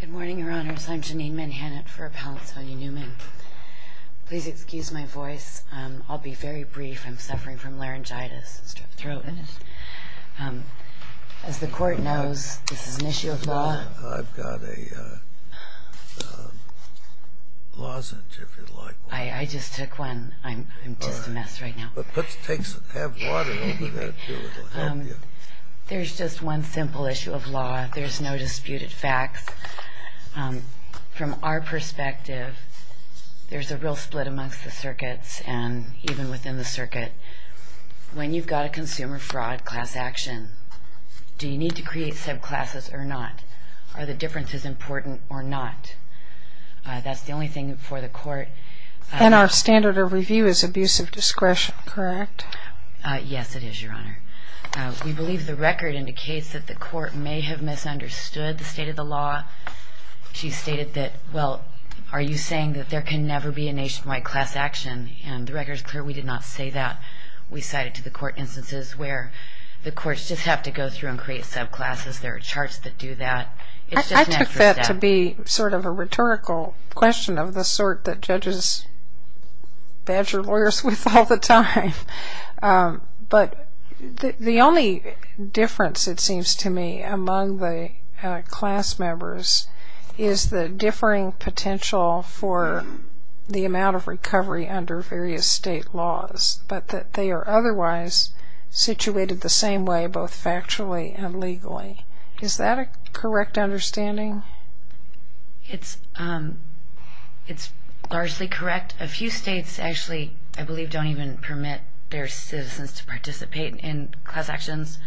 Good morning, your honors. I'm Janine Manhattan for Appellant Sonia Newman. Please excuse my voice. I'll be very brief. I'm suffering from laryngitis. As the court knows, this is an issue of law. I've got a lozenge, if you'd like one. I just took one. I'm just a mess right now. Have water over that, too. It'll help you. There's just one simple issue of law. There's no disputed facts. From our perspective, there's a real split amongst the circuits and even within the circuit. When you've got a consumer fraud class action, do you need to create subclasses or not? Are the differences important or not? That's the only thing for the court. And our standard of review is abuse of discretion, correct? Yes, it is, your honor. We believe the record indicates that the court may have misunderstood the state of the law. She stated that, well, are you saying that there can never be a nationwide class action? And the record is clear we did not say that. We cited to the court instances where the courts just have to go through and create subclasses. There are charts that do that. I took that to be sort of a rhetorical question of the sort that judges badger lawyers with all the time. But the only difference, it seems to me, among the class members is the differing potential for the amount of recovery under various state laws, but that they are otherwise situated the same way both factually and legally. Is that a correct understanding? It's largely correct. A few states actually, I believe, don't even permit their citizens to participate in class actions.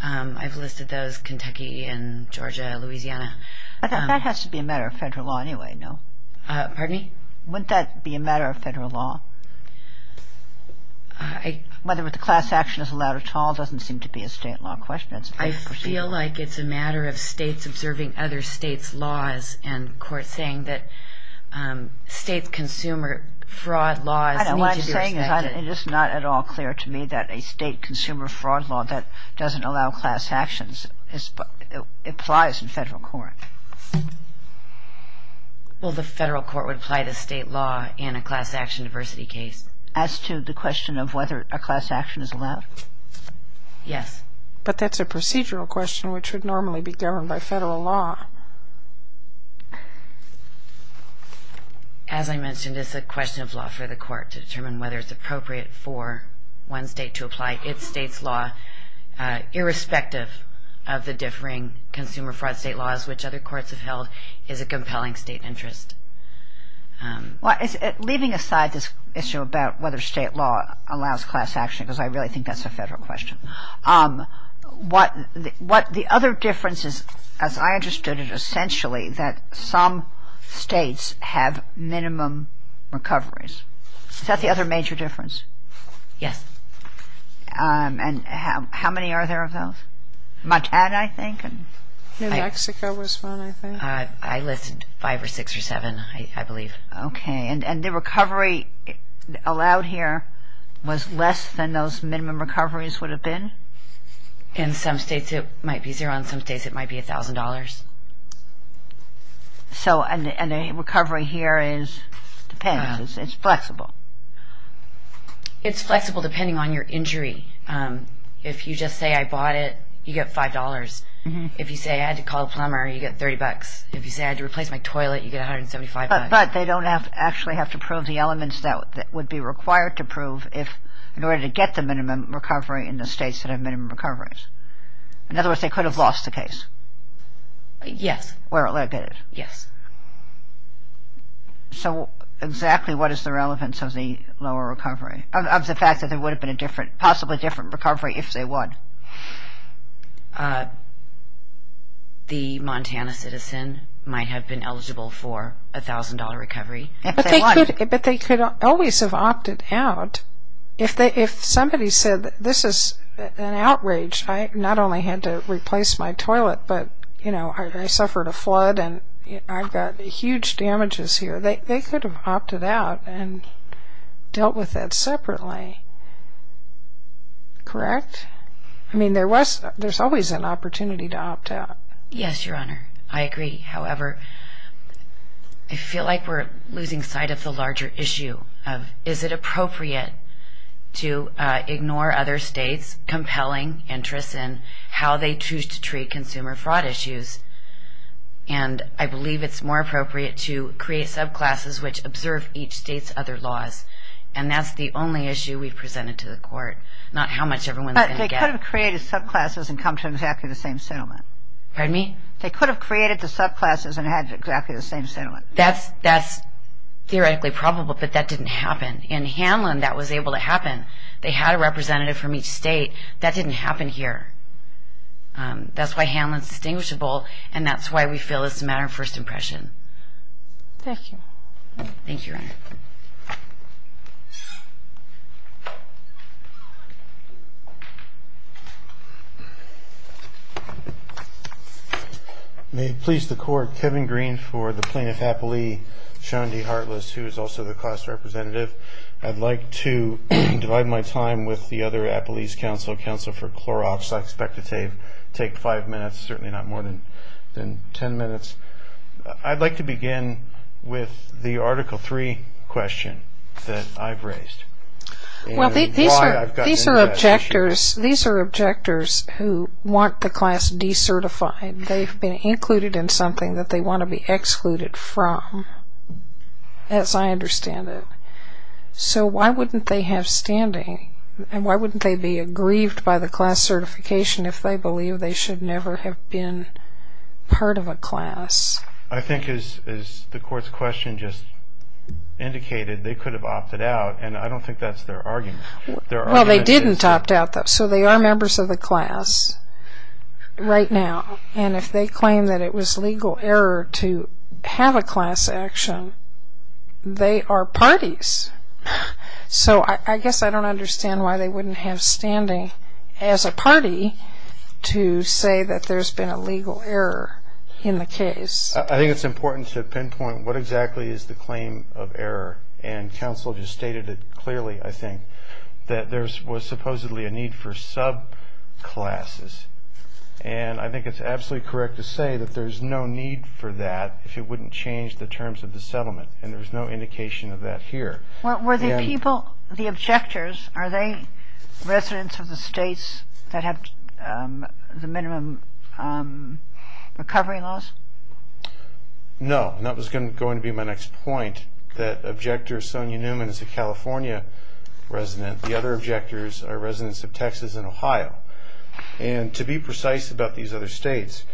I've listed those, Kentucky and Georgia, Louisiana. But that has to be a matter of federal law anyway, no? Pardon me? Wouldn't that be a matter of federal law? Whether the class action is allowed at all doesn't seem to be a state law question. I feel like it's a matter of states observing other states' laws and courts saying that states' consumer fraud laws need to be respected. What I'm saying is it's not at all clear to me that a state consumer fraud law that doesn't allow class actions applies in federal court. Well, the federal court would apply the state law in a class action diversity case. As to the question of whether a class action is allowed? Yes. But that's a procedural question which would normally be governed by federal law. As I mentioned, it's a question of law for the court to determine whether it's appropriate for one state to apply its state's law irrespective of the differing consumer fraud state laws which other courts have held is a compelling state interest. Leaving aside this issue about whether state law allows class action, because I really think that's a federal question, the other difference is, as I understood it essentially, that some states have minimum recoveries. Is that the other major difference? Yes. And how many are there of those? Montana, I think? New Mexico was one, I think. I listed five or six or seven, I believe. Okay. And the recovery allowed here was less than those minimum recoveries would have been? In some states it might be zero. In some states it might be $1,000. And the recovery here depends. It's flexible. It's flexible depending on your injury. If you just say, I bought it, you get $5. If you say, I had to call a plumber, you get $30. If you say, I had to replace my toilet, you get $175. But they don't actually have to prove the elements that would be required to prove in order to get the minimum recovery in the states that have minimum recoveries. In other words, they could have lost the case. Yes. Yes. So exactly what is the relevance of the lower recovery, of the fact that there would have been possibly a different recovery if they would? The Montana citizen might have been eligible for a $1,000 recovery. But they could always have opted out. If somebody said, this is an outrage. I not only had to replace my toilet, but I suffered a flood and I've got huge damages here. They could have opted out and dealt with that separately. Correct? I mean, there's always an opportunity to opt out. Yes, Your Honor. I agree. However, I feel like we're losing sight of the larger issue of, is it appropriate to ignore other states' compelling interests in how they choose to treat consumer fraud issues? And I believe it's more appropriate to create subclasses which observe each state's other laws. And that's the only issue we've presented to the court, not how much everyone's going to get. But they could have created subclasses and come to exactly the same settlement. Pardon me? They could have created the subclasses and had exactly the same settlement. That's theoretically probable, but that didn't happen. In Hanlon, that was able to happen. They had a representative from each state. That didn't happen here. That's why Hanlon's distinguishable, and that's why we feel it's a matter of first impression. Thank you. Thank you, Your Honor. Thank you. May it please the Court, Kevin Green for the Plaintiff-Appley, Sean D. Hartless, who is also the class representative. I'd like to divide my time with the other Appley's counsel, Counsel for Clorox. I expect to take five minutes, certainly not more than ten minutes. I'd like to begin with the Article III question that I've raised. Well, these are objectors who want the class decertified. They've been included in something that they want to be excluded from, as I understand it. So why wouldn't they have standing? And why wouldn't they be aggrieved by the class certification if they believe they should never have been part of a class? I think, as the Court's question just indicated, they could have opted out. And I don't think that's their argument. Well, they didn't opt out. So they are members of the class right now. And if they claim that it was legal error to have a class action, they are parties. So I guess I don't understand why they wouldn't have standing as a party to say that there's been a legal error in the case. I think it's important to pinpoint what exactly is the claim of error. And counsel just stated it clearly, I think, that there was supposedly a need for subclasses. And I think it's absolutely correct to say that there's no need for that if it wouldn't change the terms of the settlement. And there's no indication of that here. Well, were the people, the objectors, are they residents of the states that have the minimum recovery laws? No. And that was going to be my next point, that objector Sonia Newman is a California resident. The other objectors are residents of Texas and Ohio. And to be precise about these other states,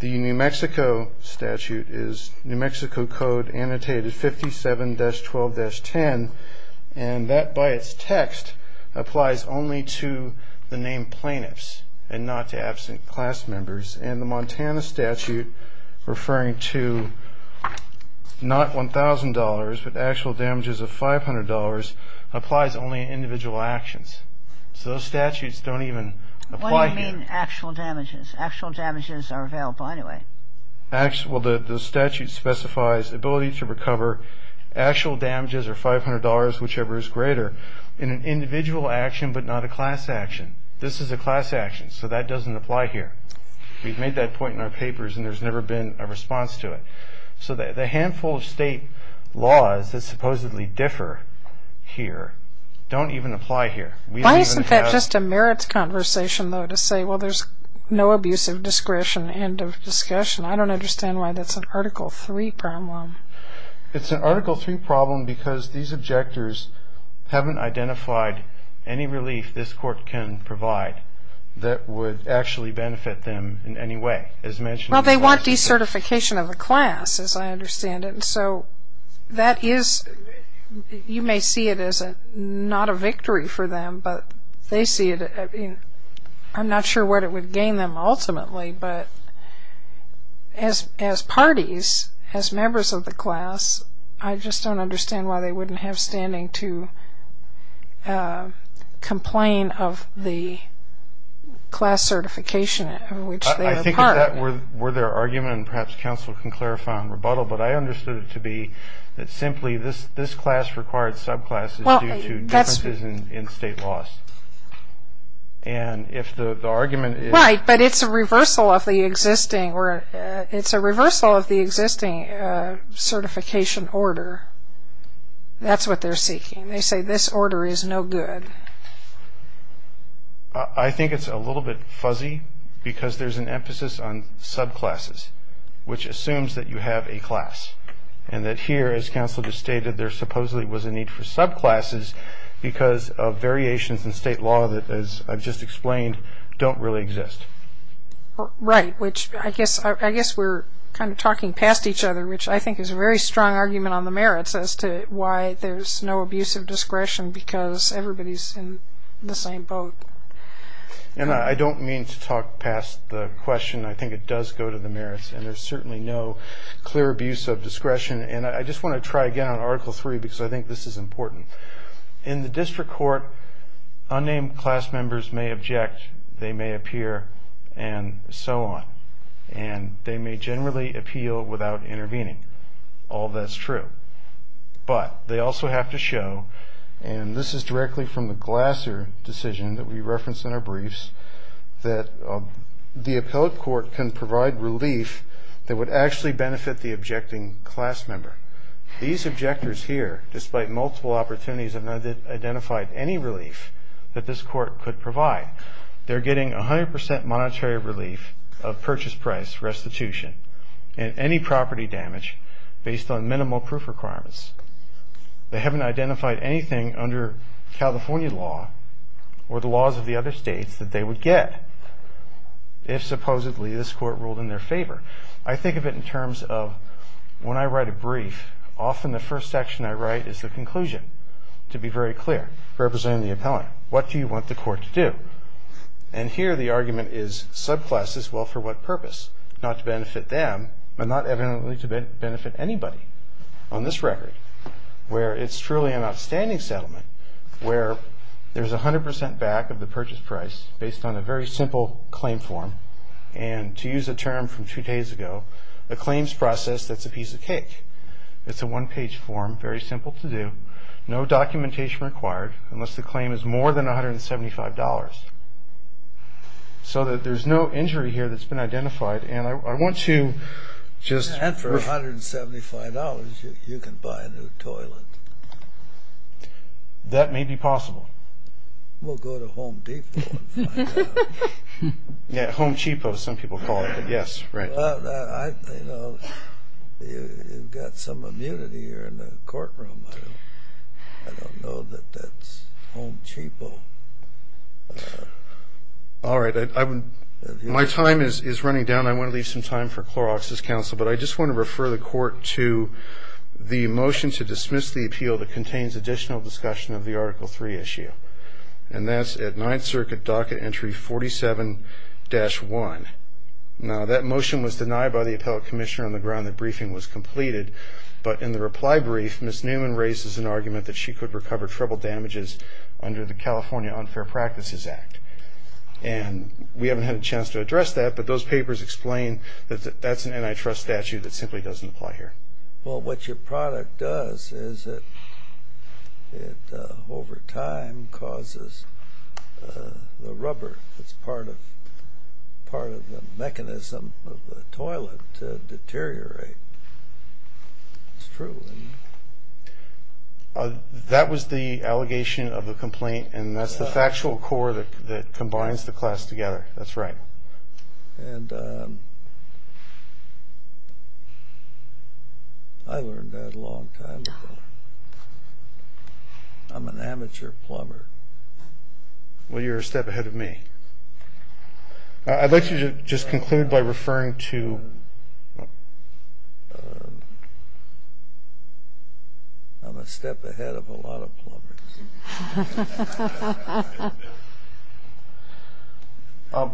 the New Mexico statute is New Mexico Code Annotated 57-12-10. And that, by its text, applies only to the named plaintiffs and not to absent class members. And the Montana statute, referring to not $1,000 but actual damages of $500, applies only in individual actions. So those statutes don't even apply here. What do you mean actual damages? Actual damages are available anyway. Well, the statute specifies ability to recover actual damages or $500, whichever is greater, in an individual action but not a class action. This is a class action, so that doesn't apply here. We've made that point in our papers and there's never been a response to it. So the handful of state laws that supposedly differ here don't even apply here. Why isn't that just a merits conversation, though, to say, well, there's no abuse of discretion, end of discussion? I don't understand why that's an Article III problem. It's an Article III problem because these objectors haven't identified any relief this court can provide that would actually benefit them in any way. Well, they want decertification of the class, as I understand it. So that is, you may see it as not a victory for them, but they see it. I'm not sure what it would gain them ultimately, but as parties, as members of the class, I just don't understand why they wouldn't have standing to complain of the class certification of which they are part. I think if that were their argument, and perhaps counsel can clarify on rebuttal, but I understood it to be that simply this class required subclasses due to differences in state laws. And if the argument is... Right, but it's a reversal of the existing certification order. That's what they're seeking. They say this order is no good. I think it's a little bit fuzzy because there's an emphasis on subclasses, which assumes that you have a class, and that here, as counsel just stated, there supposedly was a need for subclasses because of variations in state law that, as I've just explained, don't really exist. Right, which I guess we're kind of talking past each other, which I think is a very strong argument on the merits as to why there's no abuse of discretion because everybody's in the same boat. And I don't mean to talk past the question. I think it does go to the merits, and there's certainly no clear abuse of discretion. And I just want to try again on Article 3 because I think this is important. In the district court, unnamed class members may object, they may appear, and so on, and they may generally appeal without intervening. All that's true. But they also have to show, and this is directly from the Glasser decision that we referenced in our briefs, that the appellate court can provide relief that would actually benefit the objecting class member. These objectors here, despite multiple opportunities, have not identified any relief that this court could provide. They're getting 100% monetary relief of purchase price restitution and any property damage based on minimal proof requirements. They haven't identified anything under California law or the laws of the other states that they would get if supposedly this court ruled in their favor. I think of it in terms of when I write a brief, often the first section I write is the conclusion, to be very clear, representing the appellant. What do you want the court to do? And here the argument is subclasses, well, for what purpose? Not to benefit them, but not evidently to benefit anybody on this record, where it's truly an outstanding settlement, where there's 100% back of the purchase price based on a very simple claim form, and to use a term from two days ago, a claims process that's a piece of cake. It's a one-page form, very simple to do, no documentation required, unless the claim is more than $175. So that there's no injury here that's been identified, and I want to just... $175, you can buy a new toilet. That may be possible. We'll go to Home Depot and find out. Yeah, Home Cheapo, some people call it, yes, right. Well, you know, you've got some immunity here in the courtroom. I don't know that that's Home Cheapo. All right, my time is running down. I want to leave some time for Clorox's counsel, but I just want to refer the court to the motion to dismiss the appeal that contains additional discussion of the Article III issue, and that's at Ninth Circuit Docket Entry 47-1. Now, that motion was denied by the appellate commissioner on the ground that briefing was completed, but in the reply brief, Ms. Newman raises an argument that she could recover treble damages under the California Unfair Practices Act, and we haven't had a chance to address that, but those papers explain that that's an antitrust statute that simply doesn't apply here. Well, what your product does is it, over time, causes the rubber that's part of the mechanism of the toilet to deteriorate. It's true, isn't it? That was the allegation of the complaint, and that's the factual core that combines the class together. That's right. And I learned that a long time ago. I'm an amateur plumber. Well, you're a step ahead of me. I'd like you to just conclude by referring to... I'm a step ahead of a lot of plumbers.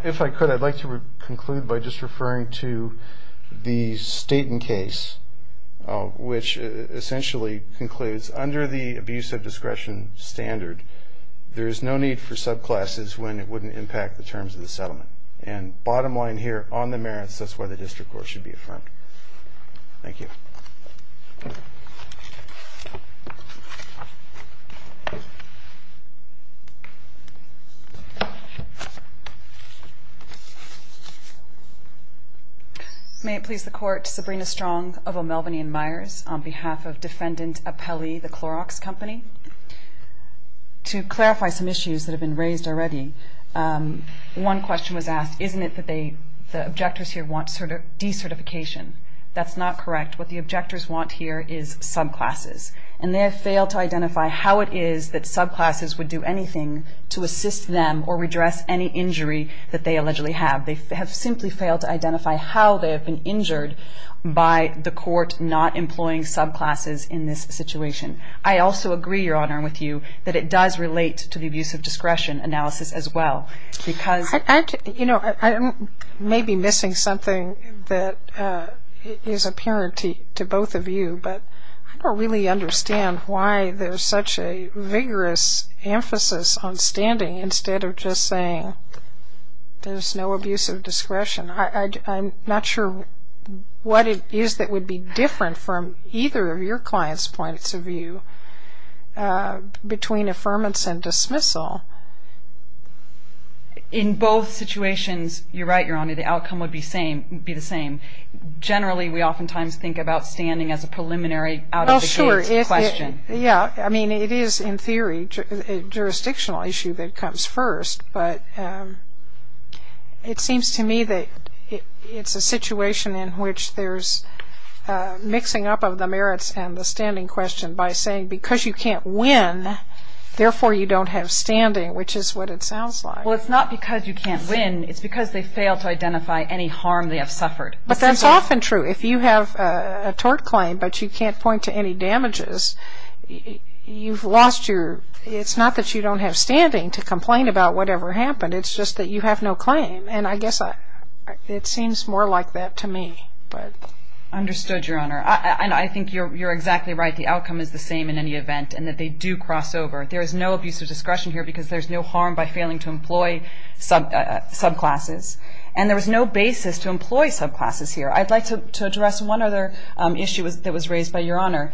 If I could, I'd like to conclude by just referring to the Staten case, which essentially concludes under the abuse of discretion standard, there is no need for subclasses when it wouldn't impact the terms of the settlement. And bottom line here, on the merits, that's why the district court should be affirmed. Thank you. May it please the Court, Sabrina Strong of O'Melveny & Myers on behalf of Defendant Apelli, the Clorox Company. To clarify some issues that have been raised already, one question was asked, isn't it that the objectors here want decertification? That's not correct. What the objectors want here is subclasses. And they have failed to identify how it is that subclasses would do anything to assist them or redress any injury that they allegedly have. They have simply failed to identify how they have been injured by the court not employing subclasses in this situation. I also agree, Your Honor, with you, that it does relate to the abuse of discretion analysis as well. You know, I may be missing something that is apparent to both of you, but I don't really understand why there's such a vigorous emphasis on standing instead of just saying there's no abuse of discretion. I'm not sure what it is that would be different from either of your clients' points of view between affirmance and dismissal. In both situations, you're right, Your Honor, the outcome would be the same. Generally, we oftentimes think about standing as a preliminary out-of-the-gate question. Yeah, I mean, it is in theory a jurisdictional issue that comes first, but it seems to me that it's a situation in which there's mixing up of the merits and the standing question by saying because you can't win, therefore you don't have standing, which is what it sounds like. Well, it's not because you can't win. It's because they failed to identify any harm they have suffered. But that's often true. If you have a tort claim but you can't point to any damages, you've lost your – it's not that you don't have standing to complain about whatever happened. It's just that you have no claim, and I guess it seems more like that to me. Understood, Your Honor. And I think you're exactly right. The outcome is the same in any event in that they do cross over. There is no abuse of discretion here because there's no harm by failing to employ subclasses. And there was no basis to employ subclasses here. I'd like to address one other issue that was raised by Your Honor.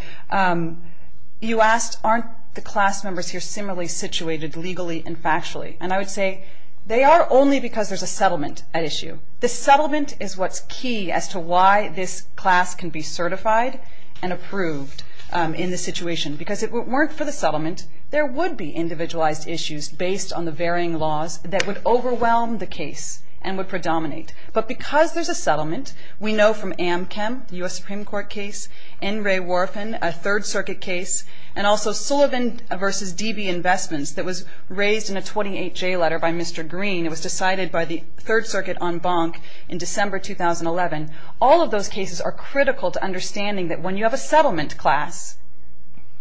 You asked, aren't the class members here similarly situated legally and factually? And I would say they are only because there's a settlement at issue. The settlement is what's key as to why this class can be certified and approved in this situation because if it weren't for the settlement, there would be individualized issues based on the varying laws that would overwhelm the case and would predominate. But because there's a settlement, we know from Amchem, the U.S. Supreme Court case, N. Ray Worfen, a Third Circuit case, and also Sullivan v. D.B. Investments that was raised in a 28-J letter by Mr. Green. It was decided by the Third Circuit en banc in December 2011. All of those cases are critical to understanding that when you have a settlement class,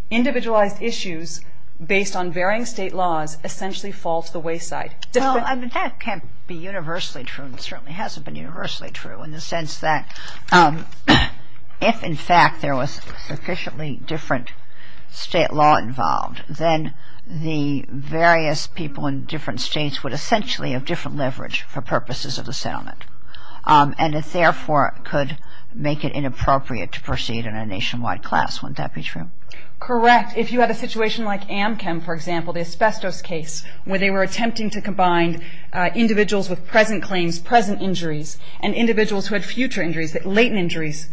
individualized issues based on varying state laws essentially fall to the wayside. Well, that can't be universally true and certainly hasn't been universally true in the sense that if, in fact, there was sufficiently different state law involved, then the various people in different states would essentially have different leverage for purposes of the settlement. And it therefore could make it inappropriate to proceed in a nationwide class. Wouldn't that be true? Correct. If you have a situation like Amchem, for example, the asbestos case, where they were attempting to combine individuals with present claims, present injuries, and individuals who had future injuries, latent injuries,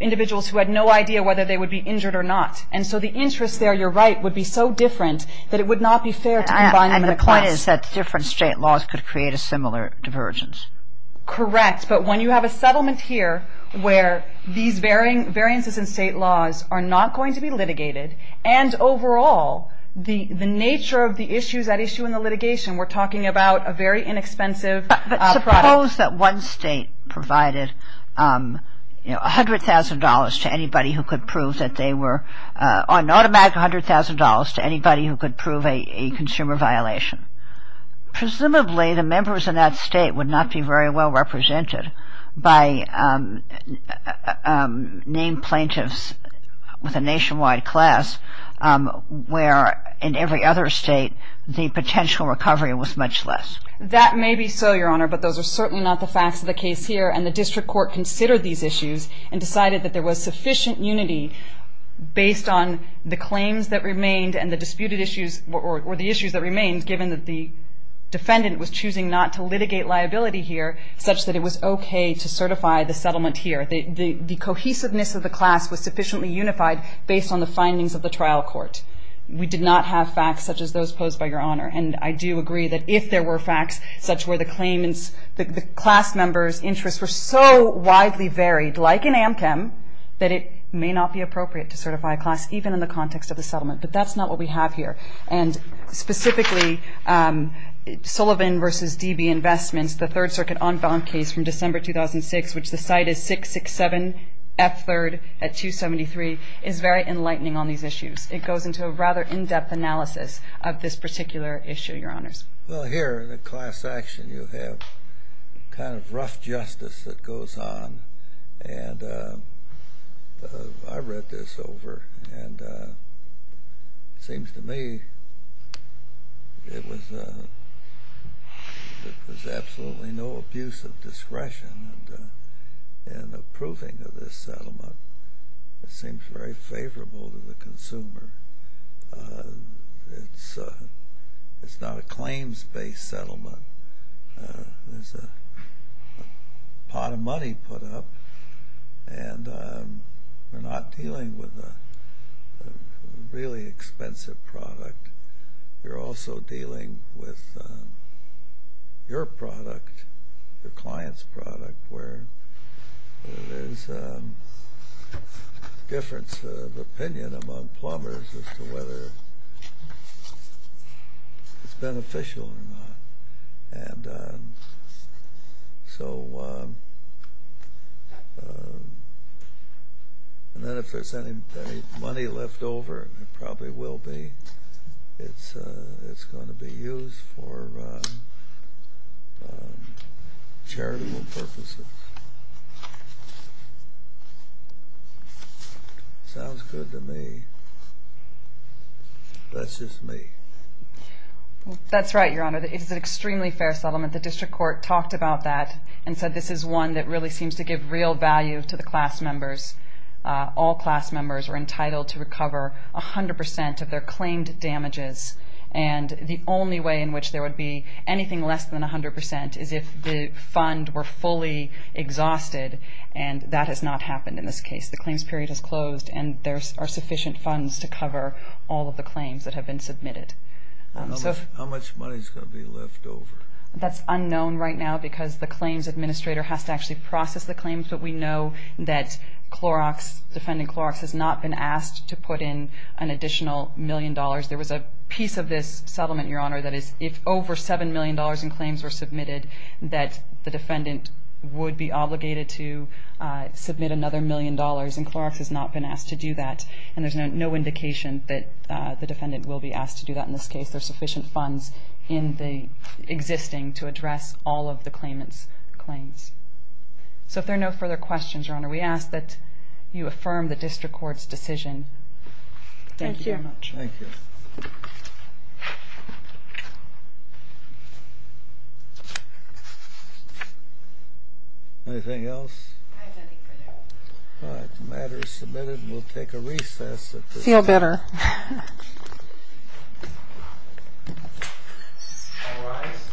individuals who had no idea whether they would be injured or not. And so the interest there, you're right, would be so different that it would not be fair to combine them in a class. And the point is that different state laws could create a similar divergence. Correct. But when you have a settlement here where these varying state laws are not going to be litigated and overall the nature of the issues at issue in the litigation, we're talking about a very inexpensive product. But suppose that one state provided, you know, $100,000 to anybody who could prove that they were or an automatic $100,000 to anybody who could prove a consumer violation. Presumably the members in that state would not be very well represented by named plaintiffs with a nationwide class where in every other state the potential recovery was much less. That may be so, Your Honor, but those are certainly not the facts of the case here. And the district court considered these issues and decided that there was sufficient unity based on the claims that remained and the disputed issues or the issues that remained given that the defendant was choosing not to litigate liability here such that it was okay to certify the settlement here. The cohesiveness of the class was sufficiently unified based on the findings of the trial court. We did not have facts such as those posed by Your Honor. And I do agree that if there were facts such where the claimants, the class members' interests were so widely varied, like in Amchem, that it may not be appropriate to certify a class even in the context of the settlement. But that's not what we have here. And specifically Sullivan v. D.B. Investments, the Third Circuit on bond case from December 2006, which the site is 667 F. 3rd at 273, is very enlightening on these issues. It goes into a rather in-depth analysis of this particular issue, Your Honors. Well, here in the class action you have kind of rough justice that goes on. And I read this over, and it seems to me it was absolutely no abuse of discretion in approving of this settlement. It's not a claims-based settlement. There's a pot of money put up, and we're not dealing with a really expensive product. You're also dealing with your product, your client's product, where there's a difference of opinion among plumbers as to whether it's beneficial or not. And then if there's any money left over, and there probably will be, it's going to be used for charitable purposes. Sounds good to me. That's just me. That's right, Your Honor. It is an extremely fair settlement. The district court talked about that and said this is one that really seems to give real value to the class members. All class members are entitled to recover 100 percent of their claimed damages. And the only way in which there would be anything less than 100 percent is if the fund were fully exhausted. And that has not happened in this case. The claims period has closed, and there are sufficient funds to cover all of the claims that have been submitted. How much money is going to be left over? That's unknown right now because the claims administrator has to actually process the claims. But we know that defendant Clorox has not been asked to put in an additional million dollars. There was a piece of this settlement, Your Honor, that is if over $7 million in claims were submitted, that the defendant would be obligated to submit another million dollars. And Clorox has not been asked to do that. And there's no indication that the defendant will be asked to do that in this case. There are sufficient funds existing to address all of the claimant's claims. So if there are no further questions, Your Honor, we ask that you affirm the district court's decision. Thank you very much. Thank you. Anything else? I have nothing further. All right. The matter is submitted. We'll take a recess at this time. Feel better. All rise.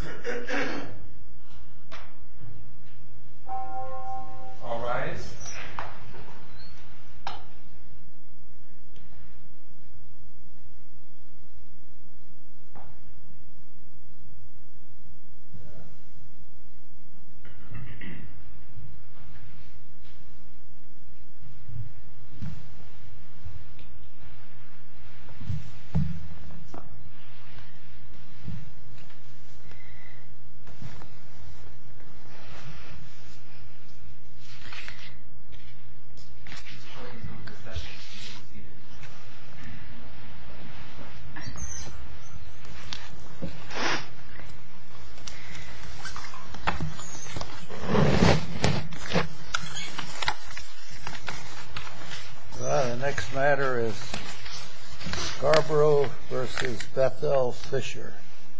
Thank you. This court is in recess. Thank you. Thank you. 12-3. Yeah. Yeah. No, there's another one going on. I got a stickiness. Do they not have court of appeals judges downtown anymore? Are they all out of their chambers? Yes. Yeah, there's some downtown. Oh, there's still some in the chambers. Oh, OK. I thought maybe they moved them all out. It's right across the downtown. Yeah, it's downtown. OK. Yeah. OK. I don't want to go back. Arbitration. Yeah, it must be. They supply us with payments. Yeah. You got any money on that? What do you do? Yeah. Same panel? No. Different panel. Also at Dorsey. No, Dorsey, they don't have one. Oh, they don't have a client. I'm going to do it in the past. Oh, OK. Right downtown. Mm-hmm. OK. I'm going to go back to Dave. Yeah. Well, I'm not. I'm going to back up. All right. Yeah. That's right. That's right. Yeah. OK. They were taxing. It's right on the bridge. Can you believe it? It's all here. It's all here. Yeah, it's just over there. It's right on the bridge. Water. There was no water. Any money? Some. We had it before. There was no water. I'm dying. I'm coughing. I'm excited. Yeah. OK. But he took a break. But he will know. Yeah. Yeah. Yeah. Yeah. Yeah. Yeah. Yeah. Yeah. Yeah. Yeah. Yeah. Yeah. Yeah. Yeah. Yeah. Yeah. Right. Yeah. Yeah. All right. All right. All right. All right. All right. All right. The next matter is Scarborough versus Bethel Fisher.